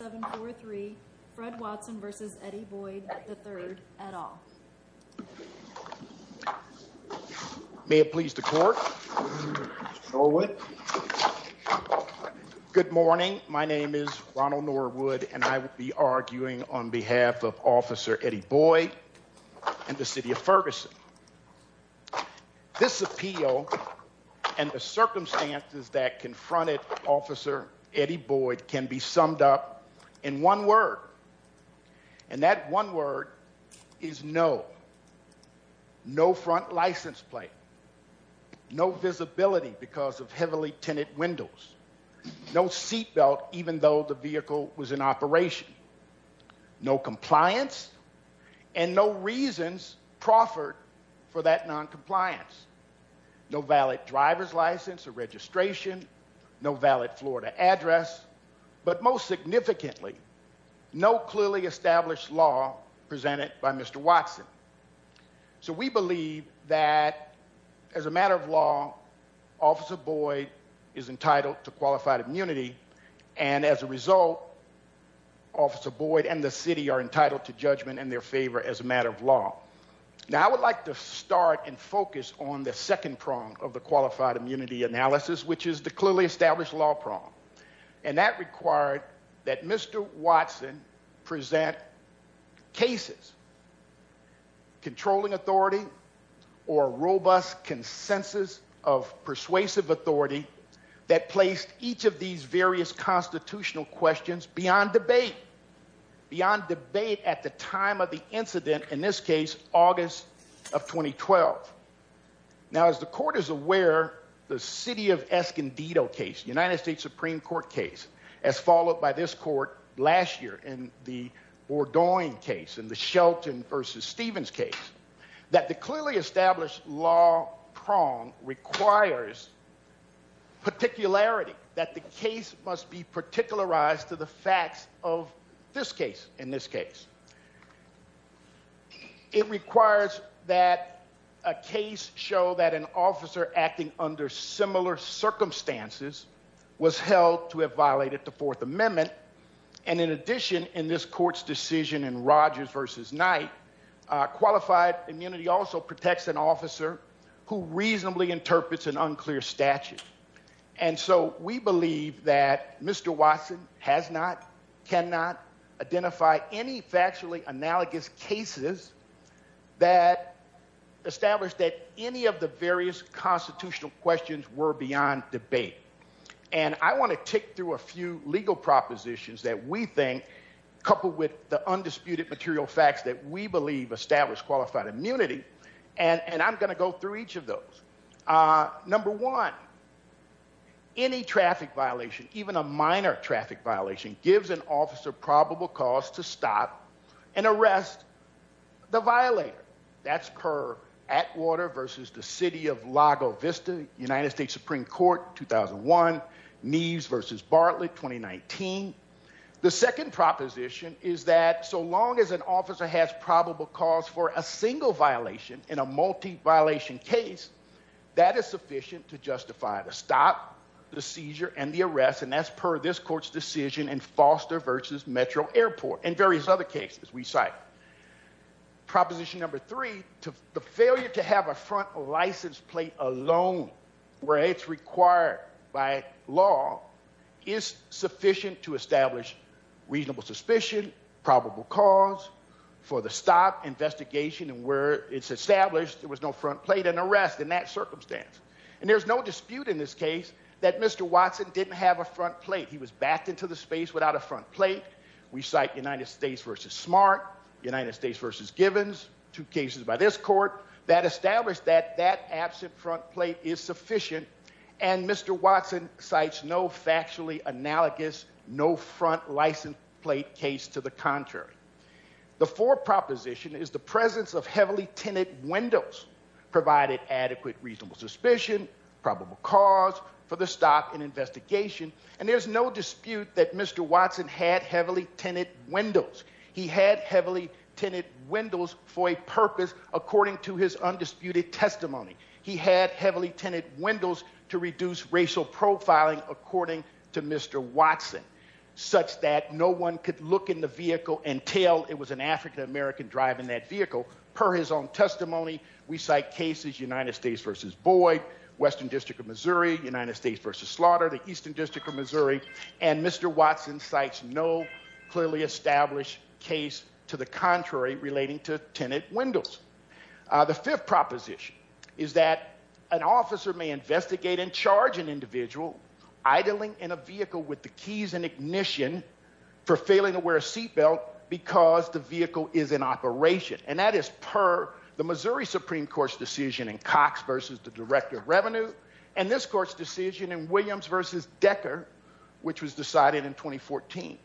May it please the court. Good morning. My name is Ronald Norwood and I will be arguing on behalf of Officer Eddie Boyd and the City of Ferguson. This appeal and the circumstances that confronted Officer Eddie Boyd can be summed up in one word. And that one word is no. No front license plate. No visibility because of heavily tinted windows. No seat belt even though the vehicle was in operation. No compliance and no reasons proffered for that noncompliance. No valid driver's license or registration. No valid Florida address. But most significantly, no clearly established law presented by Mr. Watson. So we believe that as a matter of law, Officer Boyd is entitled to qualified immunity and as a result, Officer Boyd and the city are entitled to judgment in their favor as a matter of law. Now I would like to start and focus on the second prong of the qualified immunity analysis which is the clearly established law prong. And that required that Mr. Watson present cases, controlling authority or robust consensus of persuasive authority that placed each of these various constitutional questions beyond debate. Beyond debate at the time of the incident, in this case, August of 2012. Now as the court is aware, the city of Escondido case, United States Supreme Court case, as followed by this court last year in the Bordeaux case and the Shelton v. Stevens case, that the clearly established law prong requires particularity that the case must be particularized to the facts of this case, in this case. It requires that a case show that an officer acting under similar circumstances was held to have violated the Fourth Amendment and in addition, in this court's decision in Rogers v. Knight, qualified immunity also protects an officer who reasonably interprets an unclear statute. And so we believe that Mr. Watson has not, cannot identify any factually analogous cases that established that any of the various constitutional questions were beyond debate. And I want to tick through a few legal propositions that we think, coupled with the undisputed material facts that we have in the community, and I'm going to go through each of those. Number one, any traffic violation, even a minor traffic violation, gives an officer probable cause to stop and arrest the violator. That's per Atwater v. the city of Lago Vista, United States Supreme Court, 2001, Neves v. Bartlett, 2019. The second proposition is that so long as an officer has probable cause for a single violation in a multi-violation case, that is sufficient to justify the stop, the seizure, and the arrest, and that's per this court's decision in Foster v. Metro Airport and various other cases we cite. Proposition number three, the failure to have a front license plate alone where it's required by law is sufficient to for the stop, investigation, and where it's established there was no front plate and arrest in that circumstance. And there's no dispute in this case that Mr. Watson didn't have a front plate. He was backed into the space without a front plate. We cite United States v. Smart, United States v. Givens, two cases by this court that established that that absent front plate is sufficient, and Mr. Watson cites no factually analogous, no front license plate case to the contrary. The fourth proposition is the presence of heavily tinted windows provided adequate reasonable suspicion, probable cause for the stop and investigation, and there's no dispute that Mr. Watson had heavily tinted windows. He had heavily tinted windows for a purpose according to his undisputed testimony. He had heavily tinted windows to one could look in the vehicle and tell it was an African-American driving that vehicle. Per his own testimony, we cite cases United States v. Boyd, Western District of Missouri, United States v. Slaughter, the Eastern District of Missouri, and Mr. Watson cites no clearly established case to the contrary relating to tinted windows. The fifth proposition is that an officer may investigate and charge an individual idling in a vehicle with the ignition for failing to wear a seatbelt because the vehicle is in operation. And that is per the Missouri Supreme Court's decision in Cox v. The Director of Revenue and this court's decision in Williams v. Decker which was decided in 2014.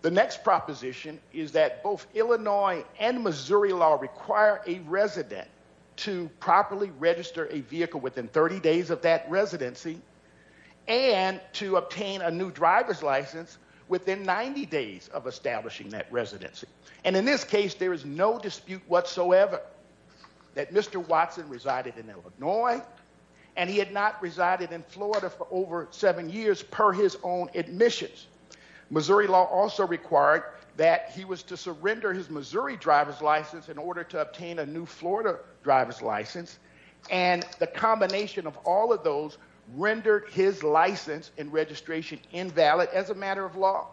The next proposition is that both Illinois and Missouri law require a resident to properly register a vehicle within 30 days of that residency and to obtain a new driver's license within 90 days of establishing that residency. And in this case, there is no dispute whatsoever that Mr. Watson resided in Illinois and he had not resided in Florida for over seven years per his own admissions. Missouri law also required that he was to surrender his Missouri driver's license in order to of those rendered his license and registration invalid as a matter of law.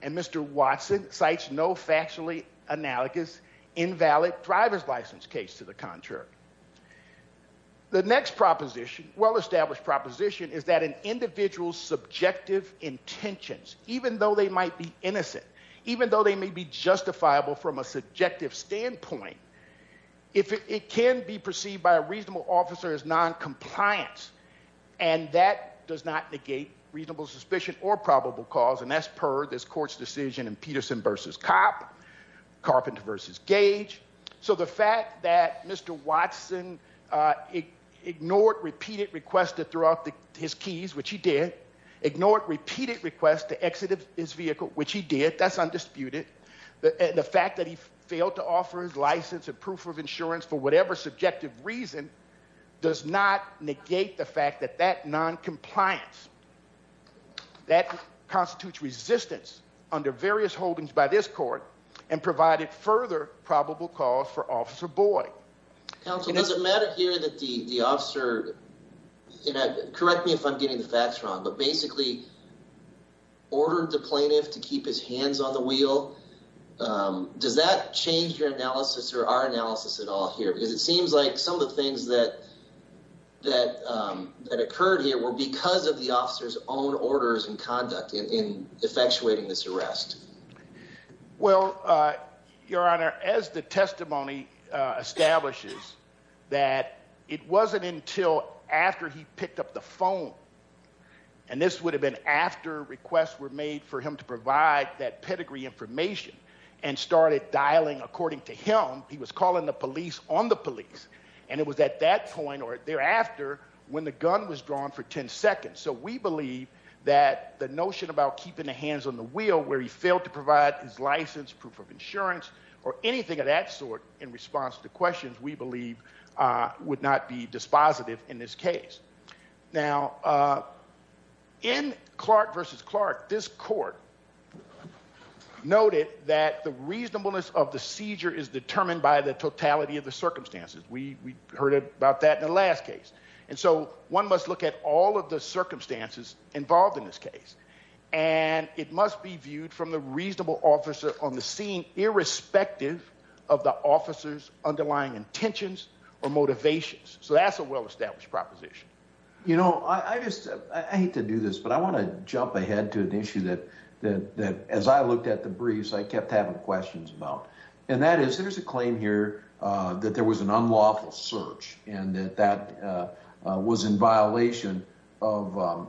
And Mr. Watson cites no factually analogous invalid driver's license case to the contrary. The next proposition, well-established proposition is that an individual's subjective intentions, even though they might be innocent, even though they may be justifiable from a subjective standpoint, if it can be received by a reasonable officer as noncompliance. And that does not negate reasonable suspicion or probable cause and that's per this court's decision in Peterson v. Copp, Carpenter v. Gage. So the fact that Mr. Watson ignored repeated requests to throw out his keys, which he did, ignored repeated requests to exit his vehicle, which he did, that's undisputed, and the fact that he failed to offer his license and proof of insurance for whatever subjective reason does not negate the fact that that noncompliance, that constitutes resistance under various holdings by this court and provided further probable cause for Officer Boyd. Counsel, does it matter here that the officer, correct me if I'm getting the facts wrong, but basically ordered the plaintiff to keep his hands on the wheel? Does that change your analysis or our analysis at all here? Because it seems like some of the things that occurred here were because of the officer's own orders and conduct in effectuating this arrest. Well, Your Honor, as the testimony establishes that it wasn't until after he picked up the phone, and this would have been after requests were made for him to provide that pedigree information and started dialing according to him, he was calling the police on the police, and it was at that point or thereafter when the gun was drawn for 10 seconds. So we believe that the notion about keeping the hands on the wheel where he failed to provide his license, proof of insurance, or anything of that sort in response to questions we believe would not be dispositive in this case. Now, in Clark v. Clark, this court noted that the reasonableness of the seizure is determined by the totality of the circumstances. We heard about that in the last case. And so one must look at all of the circumstances involved in this case, and it must be viewed from the reasonable officer on the scene irrespective of the officer's underlying intentions or motivations. So that's a well-established proposition. You know, I hate to do this, but I want to jump ahead to an issue that as I looked at the briefs, I kept having questions about. And that is, there's a claim here that there was an unlawful search and that that was in violation of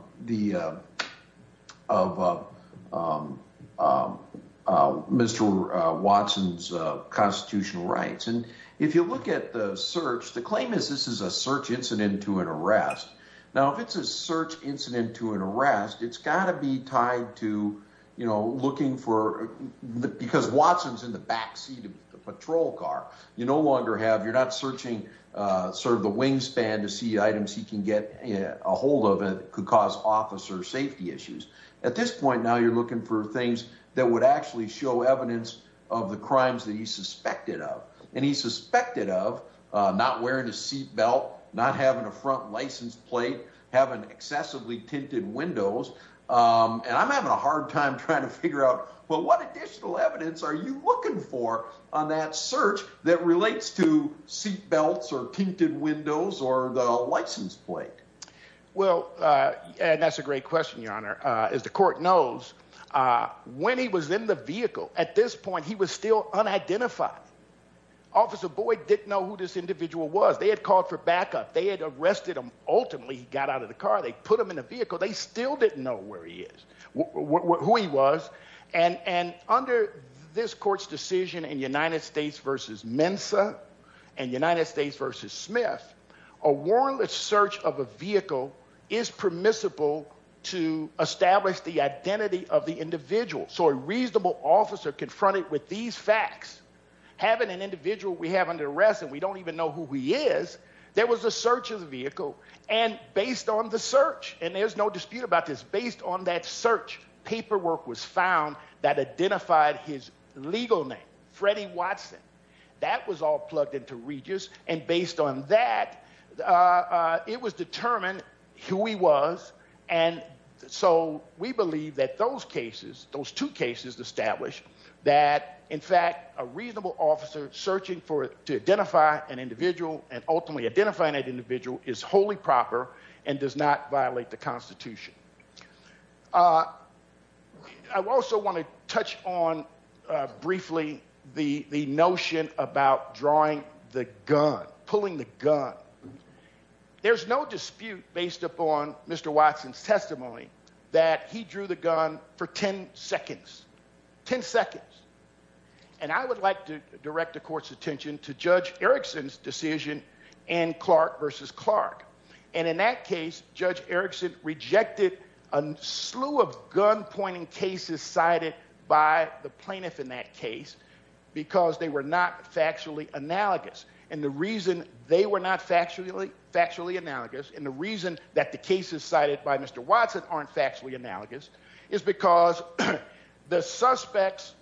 Mr. Watson's constitutional rights. And if you look at the search, the claim is this is a search incident to an arrest. Now, if it's a search incident to an arrest, it's got to be tied to, you know, looking for, because Watson's in the backseat of the patrol car. You no longer have, you're not searching sort of the wingspan to see items he can get a hold of that could cause officer safety issues. At this point, now you're looking for things that would actually show evidence of the crimes that he suspected of. And he suspected of not wearing a seat belt, not having a front license plate, having excessively tinted windows. And I'm having a hard time trying to figure out, well, what additional evidence are you looking for on that search that relates to seat belts or tinted windows or the license plate? Well, and that's a great question, Your Honor. As the officer, Boyd didn't know who this individual was. They had called for backup. They had arrested him. Ultimately, he got out of the car. They put him in a vehicle. They still didn't know where he is, who he was. And under this court's decision in United States versus Mensa and United States versus Smith, a warrantless search of a vehicle is permissible to establish the identity of the individual we have under arrest. And we don't even know who he is. There was a search of the vehicle. And based on the search, and there's no dispute about this, based on that search, paperwork was found that identified his legal name, Freddie Watson. That was all plugged into Regis. And based on that, it was determined who he was. And so we believe that those cases, those two cases establish that, in fact, a reasonable officer searching to identify an individual and ultimately identifying that individual is wholly proper and does not violate the Constitution. I also want to touch on briefly the notion about drawing the gun, pulling the gun. There's no dispute based upon Mr. Watson's testimony that he drew the gun for 10 seconds, 10 seconds. And I would like to direct the court's attention to Judge Erickson's decision in Clark versus Clark. And in that case, Judge Erickson rejected a slew of gunpointing cases cited by the plaintiff in that case because they were not factually analogous. And the reason they were not factually analogous and the reason that the cases cited by Mr. Watson aren't factually analogous is because the suspects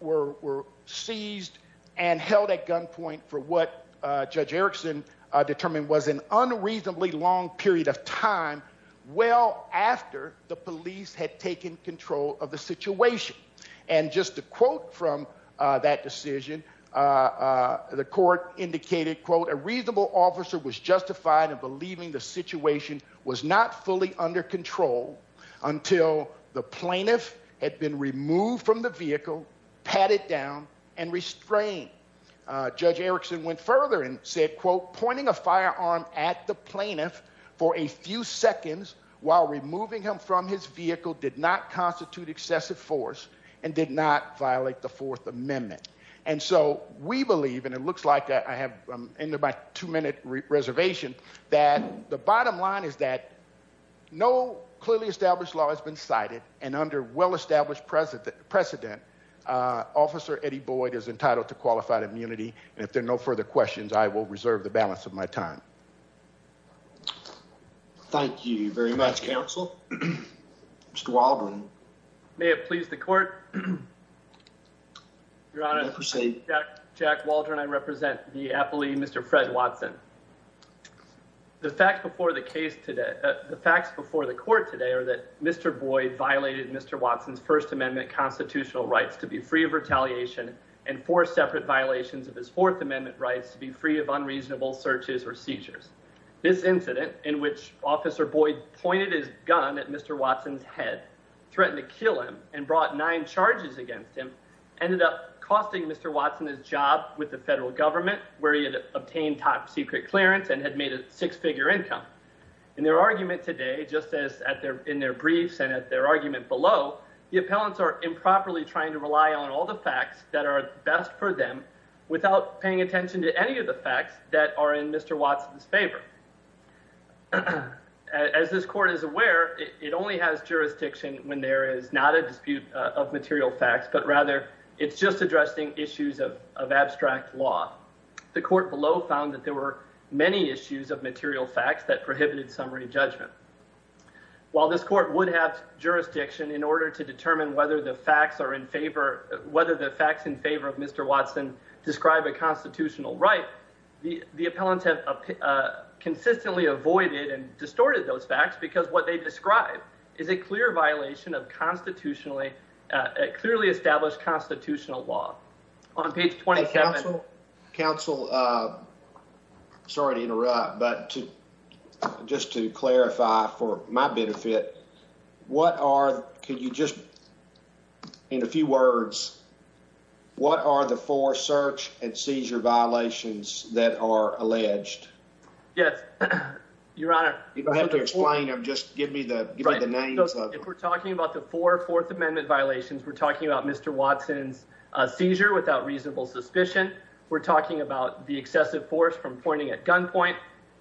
were seized and held at gunpoint for what Judge Erickson determined was an unreasonably long period of time, well after the police had taken control of the situation. And just to quote from that decision, the court indicated, quote, a reasonable officer was justified in believing the situation was not fully under control until the plaintiff had been removed from the vehicle, patted down, and restrained. Judge Erickson went further and said, quote, pointing a firearm at the plaintiff for a few seconds while removing him from his vehicle did not constitute excessive force and did not violate the Fourth Amendment. And so we believe, and it looks like I have ended my two-minute reservation, that the bottom line is that no clearly established law has been cited. And under well-established precedent, Officer Eddie Boyd is entitled to qualified immunity. And if there are no further questions, I will reserve the balance of my time. Thank you very much, counsel. Mr. Waldron. May it please the court. Your Honor, Jack Waldron. I represent the appellee, Mr. Fred Watson. The facts before the court today are that Mr. Boyd violated Mr. Watson's First Amendment constitutional rights to be free of retaliation and four separate violations of his Fourth Amendment. This incident, in which Officer Boyd pointed his gun at Mr. Watson's head, threatened to kill him, and brought nine charges against him, ended up costing Mr. Watson his job with the federal government, where he had obtained top-secret clearance and had made a six-figure income. In their argument today, just as in their briefs and at their argument below, the appellants are improperly trying to rely on all the facts that are best for them without paying attention to any of the facts that are in Mr. Watson's favor. As this court is aware, it only has jurisdiction when there is not a dispute of material facts, but rather it's just addressing issues of abstract law. The court below found that there were many issues of material facts that prohibited summary judgment. While this court would have jurisdiction in order to right, the appellants have consistently avoided and distorted those facts because what they describe is a clear violation of a clearly established constitutional law. On page 27— Counsel, sorry to interrupt, but just to clarify for my benefit, what are—can you just, in a few words, what are the four search and seizure violations that are alleged? Yes, Your Honor. If I have to explain them, just give me the names. If we're talking about the four Fourth Amendment violations, we're talking about Mr. Watson's seizure without reasonable suspicion, we're talking about the excessive force from pointing at gunpoint,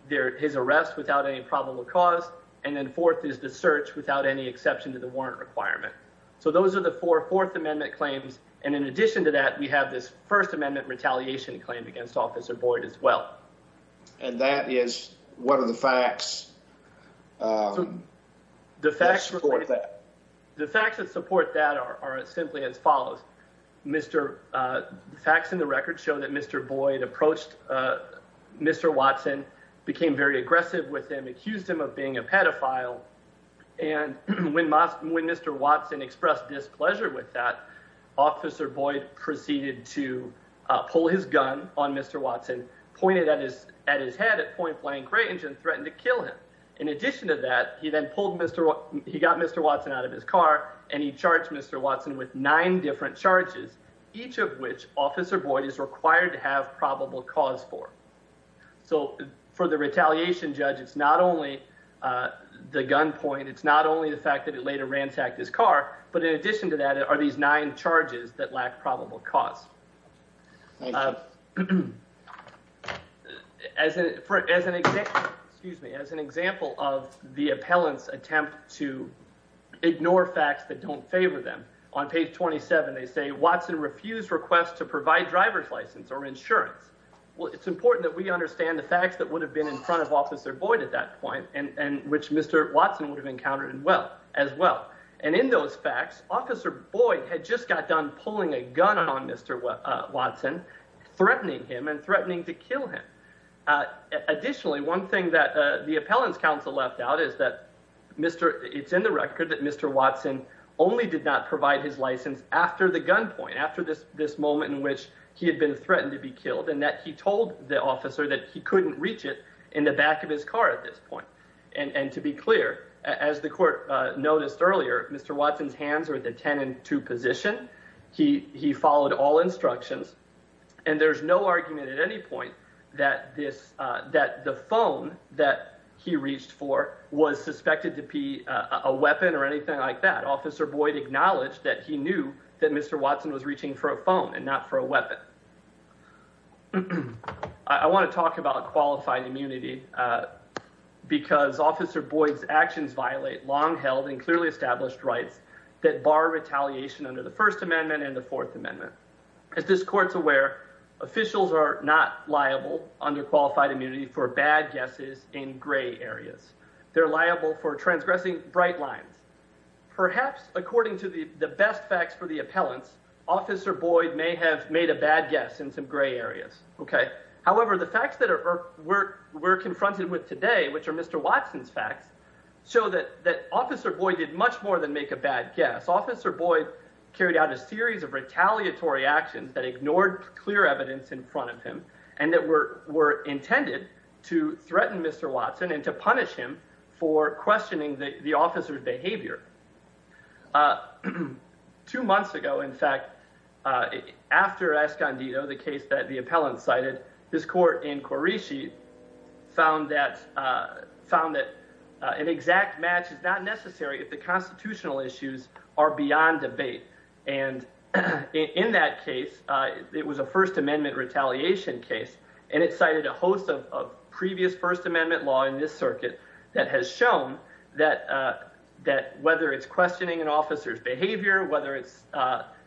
his arrest without any probable cause, and then fourth is the search without any exception to the warrant requirement. So those are the four Fourth Amendment claims, and in addition to that, we have this First Amendment retaliation claim against Officer Boyd as well. And that is—what are the facts that support that? The facts that support that are simply as follows. The facts in the record show that Mr. Boyd approached Mr. Watson, became very aggressive with him, accused him of being a pedophile, and when Mr. Watson expressed displeasure with that, Officer Boyd proceeded to pull his gun on Mr. Watson, pointed at his head at point-blank range, and threatened to kill him. In addition to that, he then pulled Mr.—he got Mr. Watson out of his car, and he charged Mr. Watson with nine different charges, each of which Officer Boyd is required to have probable cause for. So for the retaliation judge, it's not only the gunpoint, it's not only the fact that he later ransacked his car, but in addition to that are these nine charges that lack probable cause. As an example of the appellant's attempt to ignore facts that don't favor them, on page 27 they say, Watson refused request to provide driver's license or insurance. Well, it's important that we understand the facts that would have been in front of Officer Boyd at that point, and which Mr. Watson would have encountered as well. And in those facts, Officer Boyd had just got done pulling a gun on Mr. Watson, threatening him and threatening to kill him. Additionally, one thing that the appellant's counsel left out is that it's in the record that Mr. Watson only did not provide his license after the gunpoint, after this moment in which he had been threatened to be killed, and that he told the officer that he couldn't reach it in the back of his car at this point. And to be clear, as the court noticed earlier, Mr. Watson's hands were at the 10 and 2 position. He followed all instructions, and there's no argument at any point that the phone that he reached for was suspected to be a weapon or anything like that. Officer Boyd acknowledged that he knew that Mr. Watson was reaching for a phone and not for a weapon. I want to talk about qualified immunity because Officer Boyd's actions violate long-held and clearly established rights that bar retaliation under the First Amendment and the Fourth Amendment. As this court's aware, officials are not liable under qualified immunity for bad guesses in gray lines. Perhaps, according to the best facts for the appellants, Officer Boyd may have made a bad guess in some gray areas. However, the facts that we're confronted with today, which are Mr. Watson's facts, show that Officer Boyd did much more than make a bad guess. Officer Boyd carried out a series of retaliatory actions that ignored clear evidence in front of him and that were intended to threaten Mr. Watson and to punish him for questioning the officer's behavior. Two months ago, in fact, after Escondido, the case that the appellant cited, this court in Quirici found that an exact match is not necessary if the constitutional issues are beyond debate. And in that case, it was a First Amendment retaliation case, and it cited a host of previous First Amendment law in this circuit that has shown that whether it's questioning an officer's behavior, whether it's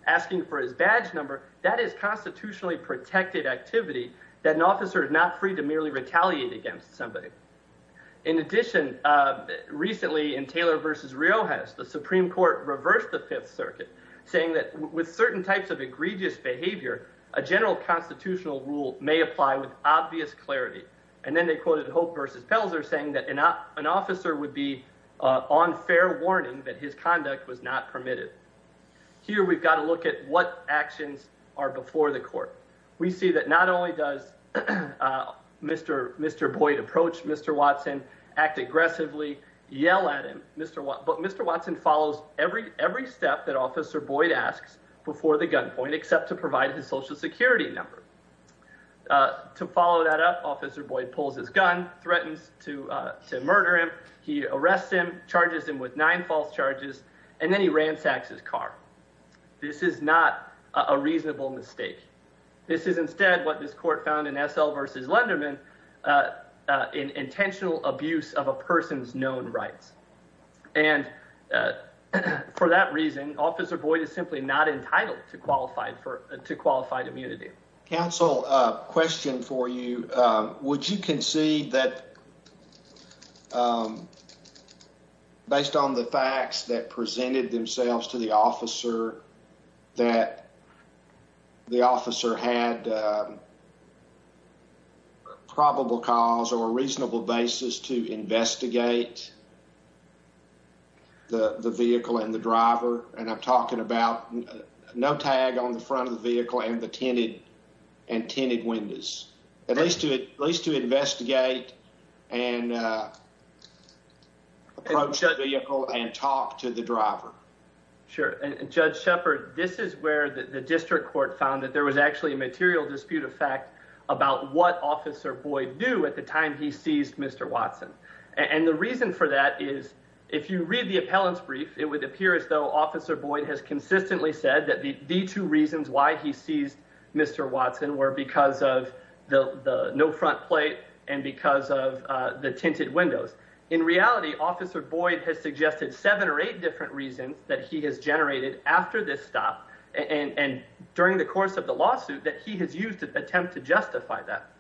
asking for his badge number, that is constitutionally protected activity that an officer is not free to merely retaliate against somebody. In addition, recently in Taylor v. Riojas, the Supreme Court reversed the Fifth Circuit, saying that with certain types of egregious behavior, a general constitutional rule may apply with obvious clarity. And then they quoted Hope v. Pelzer saying that an officer would be on fair warning that his conduct was not permitted. Here, we've got to look at what actions are before the court. We see that not only does Mr. Boyd approach Mr. Watson, act aggressively, yell at him, but Mr. Watson follows every step that Officer Boyd asks before the gunpoint except to provide his Social Security number. To follow that up, Officer Boyd pulls his gun, threatens to murder him, he arrests him, charges him with nine false charges, and then he ransacks his car. This is not a reasonable mistake. This is instead what this court found in S.L. v. Lenderman in intentional abuse of a person's rights. And for that reason, Officer Boyd is simply not entitled to qualified immunity. Counsel, a question for you. Would you concede that based on the facts that presented themselves to the officer that the officer had a probable cause or a reasonable basis to investigate the vehicle and the driver? And I'm talking about no tag on the front of the vehicle and the tinted and tinted windows. At least to investigate and approach the vehicle and talk to the driver. Sure. And Judge Shepard, this is where the district court found that there was actually material dispute of fact about what Officer Boyd knew at the time he seized Mr. Watson. And the reason for that is if you read the appellant's brief, it would appear as though Officer Boyd has consistently said that the two reasons why he seized Mr. Watson were because of the no front plate and because of the tinted windows. In reality, Officer Boyd has suggested seven or eight different reasons that he has generated after this stop and during the course of the lawsuit that he has used to attempt to justify that.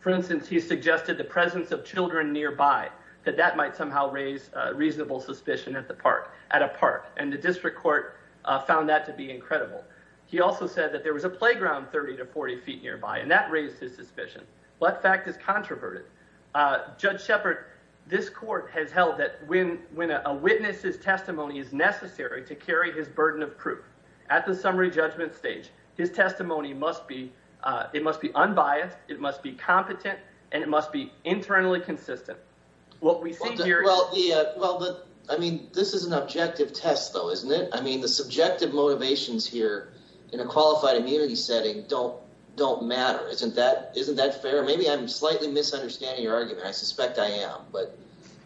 For instance, he suggested the presence of children nearby, that that might somehow raise reasonable suspicion at a park. And the district court found that to be incredible. He also said that there was a playground 30 to 40 feet nearby, and that raised his suspicion. That fact is controverted. Judge Shepard, this court has held that when a witness's testimony is necessary to carry his burden of proof, at the summary judgment stage, his testimony must be, it must be unbiased, it must be competent, and it must be internally consistent. What we see here... Well, I mean, this is an objective test though, isn't it? I mean, the subjective motivations here in a qualified immunity setting don't matter. Isn't that fair? Maybe I'm slightly misunderstanding your argument. I suspect I am, but...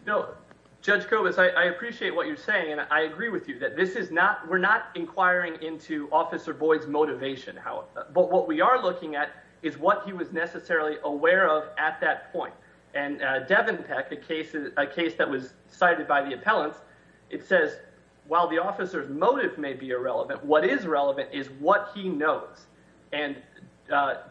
No, Judge Kobus, I appreciate what you're saying. And I agree with you that this is not, we're not inquiring into Officer Boyd's motivation. But what we are looking at is what he was necessarily aware of at that point. And Devon Peck, a case that was cited by the appellants, it says, while the officer's motive may be irrelevant, what is relevant is what he knows. And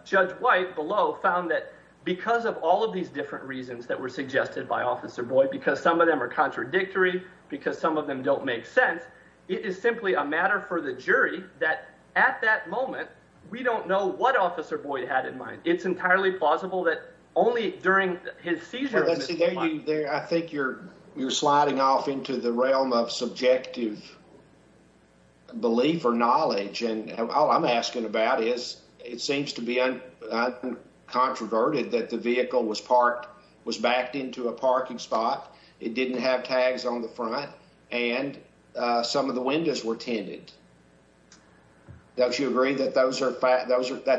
Judge White below found that because of all of these different reasons that were suggested by Officer Boyd, because some of them are contradictory, because some of them don't make sense, it is simply a matter for the jury that at that moment, we don't know what Officer Boyd had in mind. It's entirely plausible that only during his seizure... I think you're sliding off into the realm of subjective belief or knowledge. And all I'm asking about is, it seems to be uncontroverted that the vehicle was backed into a parking spot, it didn't have tags on the front, and some of the windows were tinted. Don't you agree that that's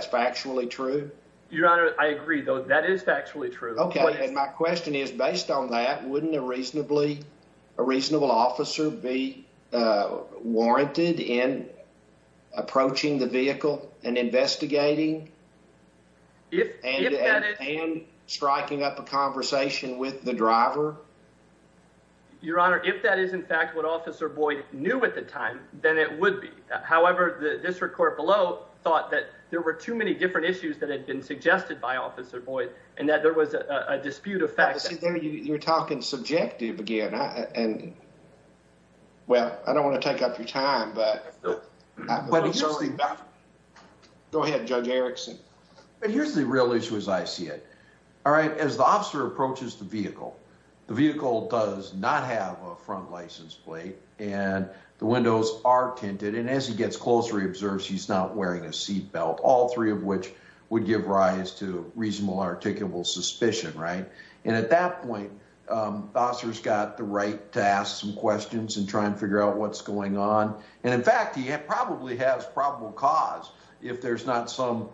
factually true? Your Honor, I agree, though, that is factually true. Okay, and my question is, based on that, wouldn't a reasonable officer be warranted in approaching the vehicle and investigating, and striking up a conversation with the driver? Your Honor, if that is in fact what Officer Boyd knew at the time, then it would be. However, the district court below thought that there were too many different issues that had been suggested by Officer Boyd, and that there was a dispute of facts. You're talking subjective again. And, well, I don't want to take up your time, but... Go ahead, Judge Erickson. But here's the real issue as I see it. As the officer approaches the vehicle, the vehicle does not have a front license plate, and the windows are tinted. And as he gets closer, he observes he's not wearing a seat belt, all three of which would give rise to reasonable articulable suspicion, right? And at that point, the officer's got the right to ask some questions and try and figure out what's going on. And in fact, he probably has probable cause if there's not some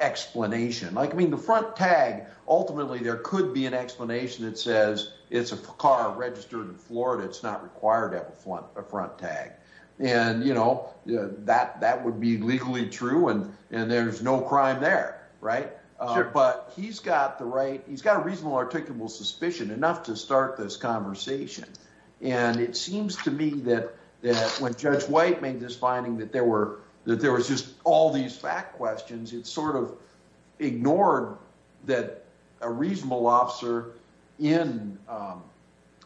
explanation. I mean, the front tag, ultimately, there could be an explanation that says it's a car registered in Florida, it's not required to have a front tag. And that would be legally true, and there's no crime there, but he's got the right... He's got a reasonable articulable suspicion enough to start this conversation. And it seems to me that when Judge White made this finding that there was just all these fact questions, it sort of ignored that a reasonable officer in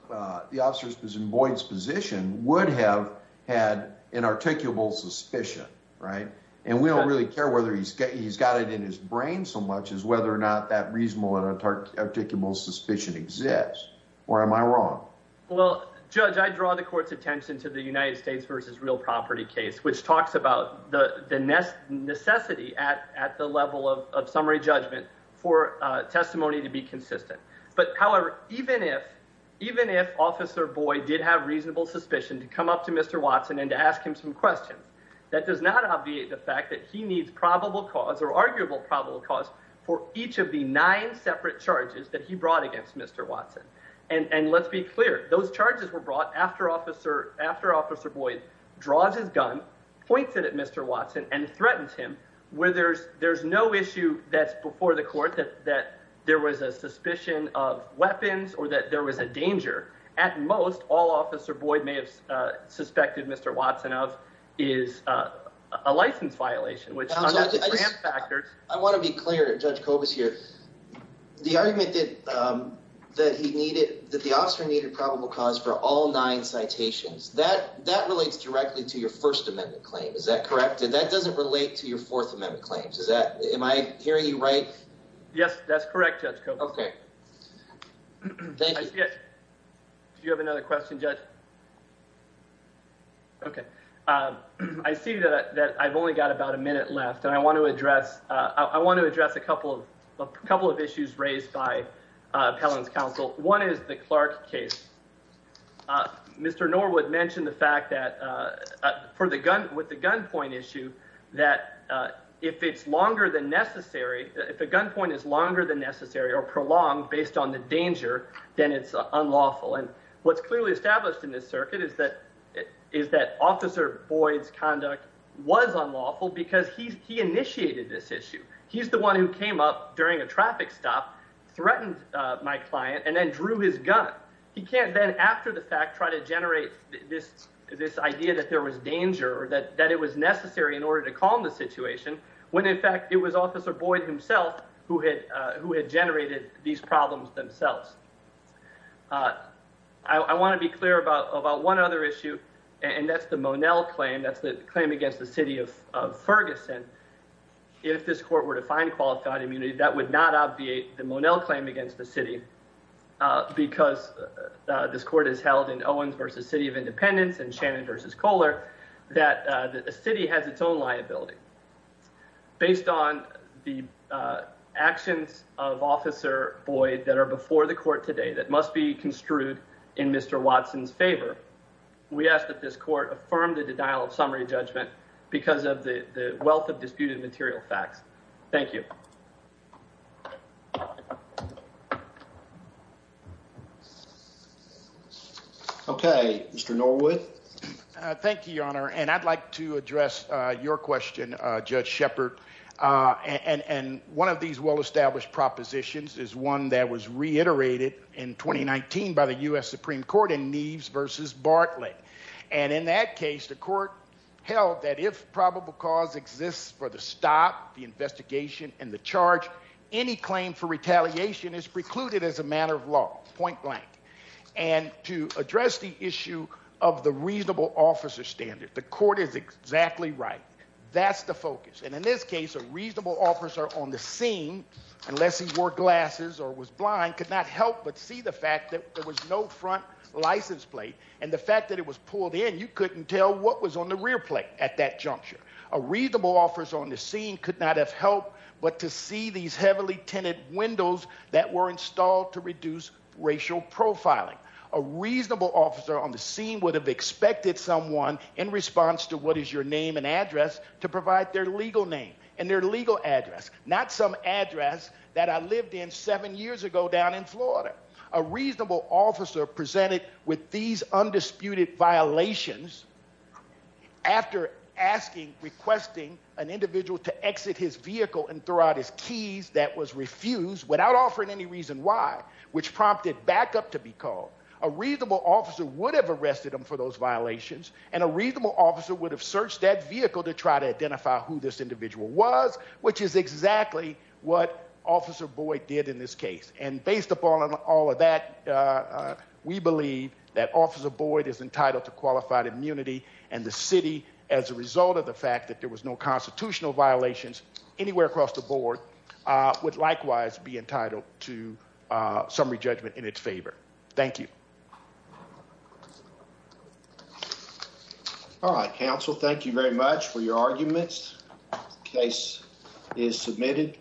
the officer's position, Boyd's position, would have had an articulable suspicion, right? And we don't really care he's got it in his brain so much as whether or not that reasonable and articulable suspicion exists, or am I wrong? Well, Judge, I draw the court's attention to the United States versus real property case, which talks about the necessity at the level of summary judgment for testimony to be consistent. But however, even if Officer Boyd did have reasonable suspicion to come up to Mr. Watson and to ask him some questions, that does not obviate the fact that he needs probable cause or arguable probable cause for each of the nine separate charges that he brought against Mr. Watson. And let's be clear, those charges were brought after Officer Boyd draws his gun, points it at Mr. Watson and threatens him where there's no issue that's before the court that there was a suspicion of weapons or that there was a danger. At most, all Officer Boyd suspected Mr. Watson of is a license violation. I want to be clear, Judge Kobus here, the argument that the officer needed probable cause for all nine citations, that relates directly to your First Amendment claim. Is that correct? That doesn't relate to your Fourth Amendment claims. Am I hearing you right? Yes, that's correct, Judge Kobus. Okay. Thank you. Do you have another question, Judge? Okay. I see that I've only got about a minute left and I want to address a couple of issues raised by Appellant's counsel. One is the Clark case. Mr. Norwood mentioned the fact that with the gunpoint issue, that if it's longer than necessary, if the gunpoint is longer than necessary or prolonged based on the danger, then it's unlawful. And what's clearly established in this circuit is that Officer Boyd's conduct was unlawful because he initiated this issue. He's the one who came up during a traffic stop, threatened my client and then drew his gun. He can't then, after the fact, try to generate this idea that there was danger or that it was necessary in order to calm the situation, when in fact it was Officer Boyd himself who had generated these problems themselves. I want to be clear about one other issue and that's the Monell claim. That's the claim against the city of Ferguson. If this court were to find qualified immunity, that would not obviate the Monell claim against the city because this court is held in Owens versus City of Independence and Shannon versus Kohler, that the city has its own liability. Based on the actions of Officer Boyd that are before the court today that must be construed in Mr. Watson's favor, we ask that this court affirm the denial of summary judgment because of the wealth of disputed material facts. Thank you. Okay, Mr. Norwood. Thank you, Your Honor. I'd like to address your question, Judge Shepard. One of these well-established propositions is one that was reiterated in 2019 by the U.S. If probable cause exists for the stop, the investigation, and the charge, any claim for retaliation is precluded as a matter of law, point blank. To address the issue of the reasonable officer standard, the court is exactly right. That's the focus. In this case, a reasonable officer on the scene, unless he wore glasses or was blind, could not help but see the fact that there was no front license plate and the fact that it was pulled in, you couldn't tell what was on the rear plate at that juncture. A reasonable officer on the scene could not have helped but to see these heavily tinted windows that were installed to reduce racial profiling. A reasonable officer on the scene would have expected someone, in response to what is your name and address, to provide their legal name and their legal address, not some address that I lived in seven years ago down in Florida. A reasonable officer presented with these after asking, requesting an individual to exit his vehicle and throw out his keys that was refused without offering any reason why, which prompted backup to be called. A reasonable officer would have arrested him for those violations and a reasonable officer would have searched that vehicle to try to identify who this individual was, which is exactly what Officer Boyd did in this case. And based upon all of that, we believe that Officer Boyd is entitled to qualified immunity and the city, as a result of the fact that there was no constitutional violations anywhere across the board, would likewise be entitled to summary judgment in its favor. Thank you. All right, counsel. Thank you very much for your arguments. Case is submitted.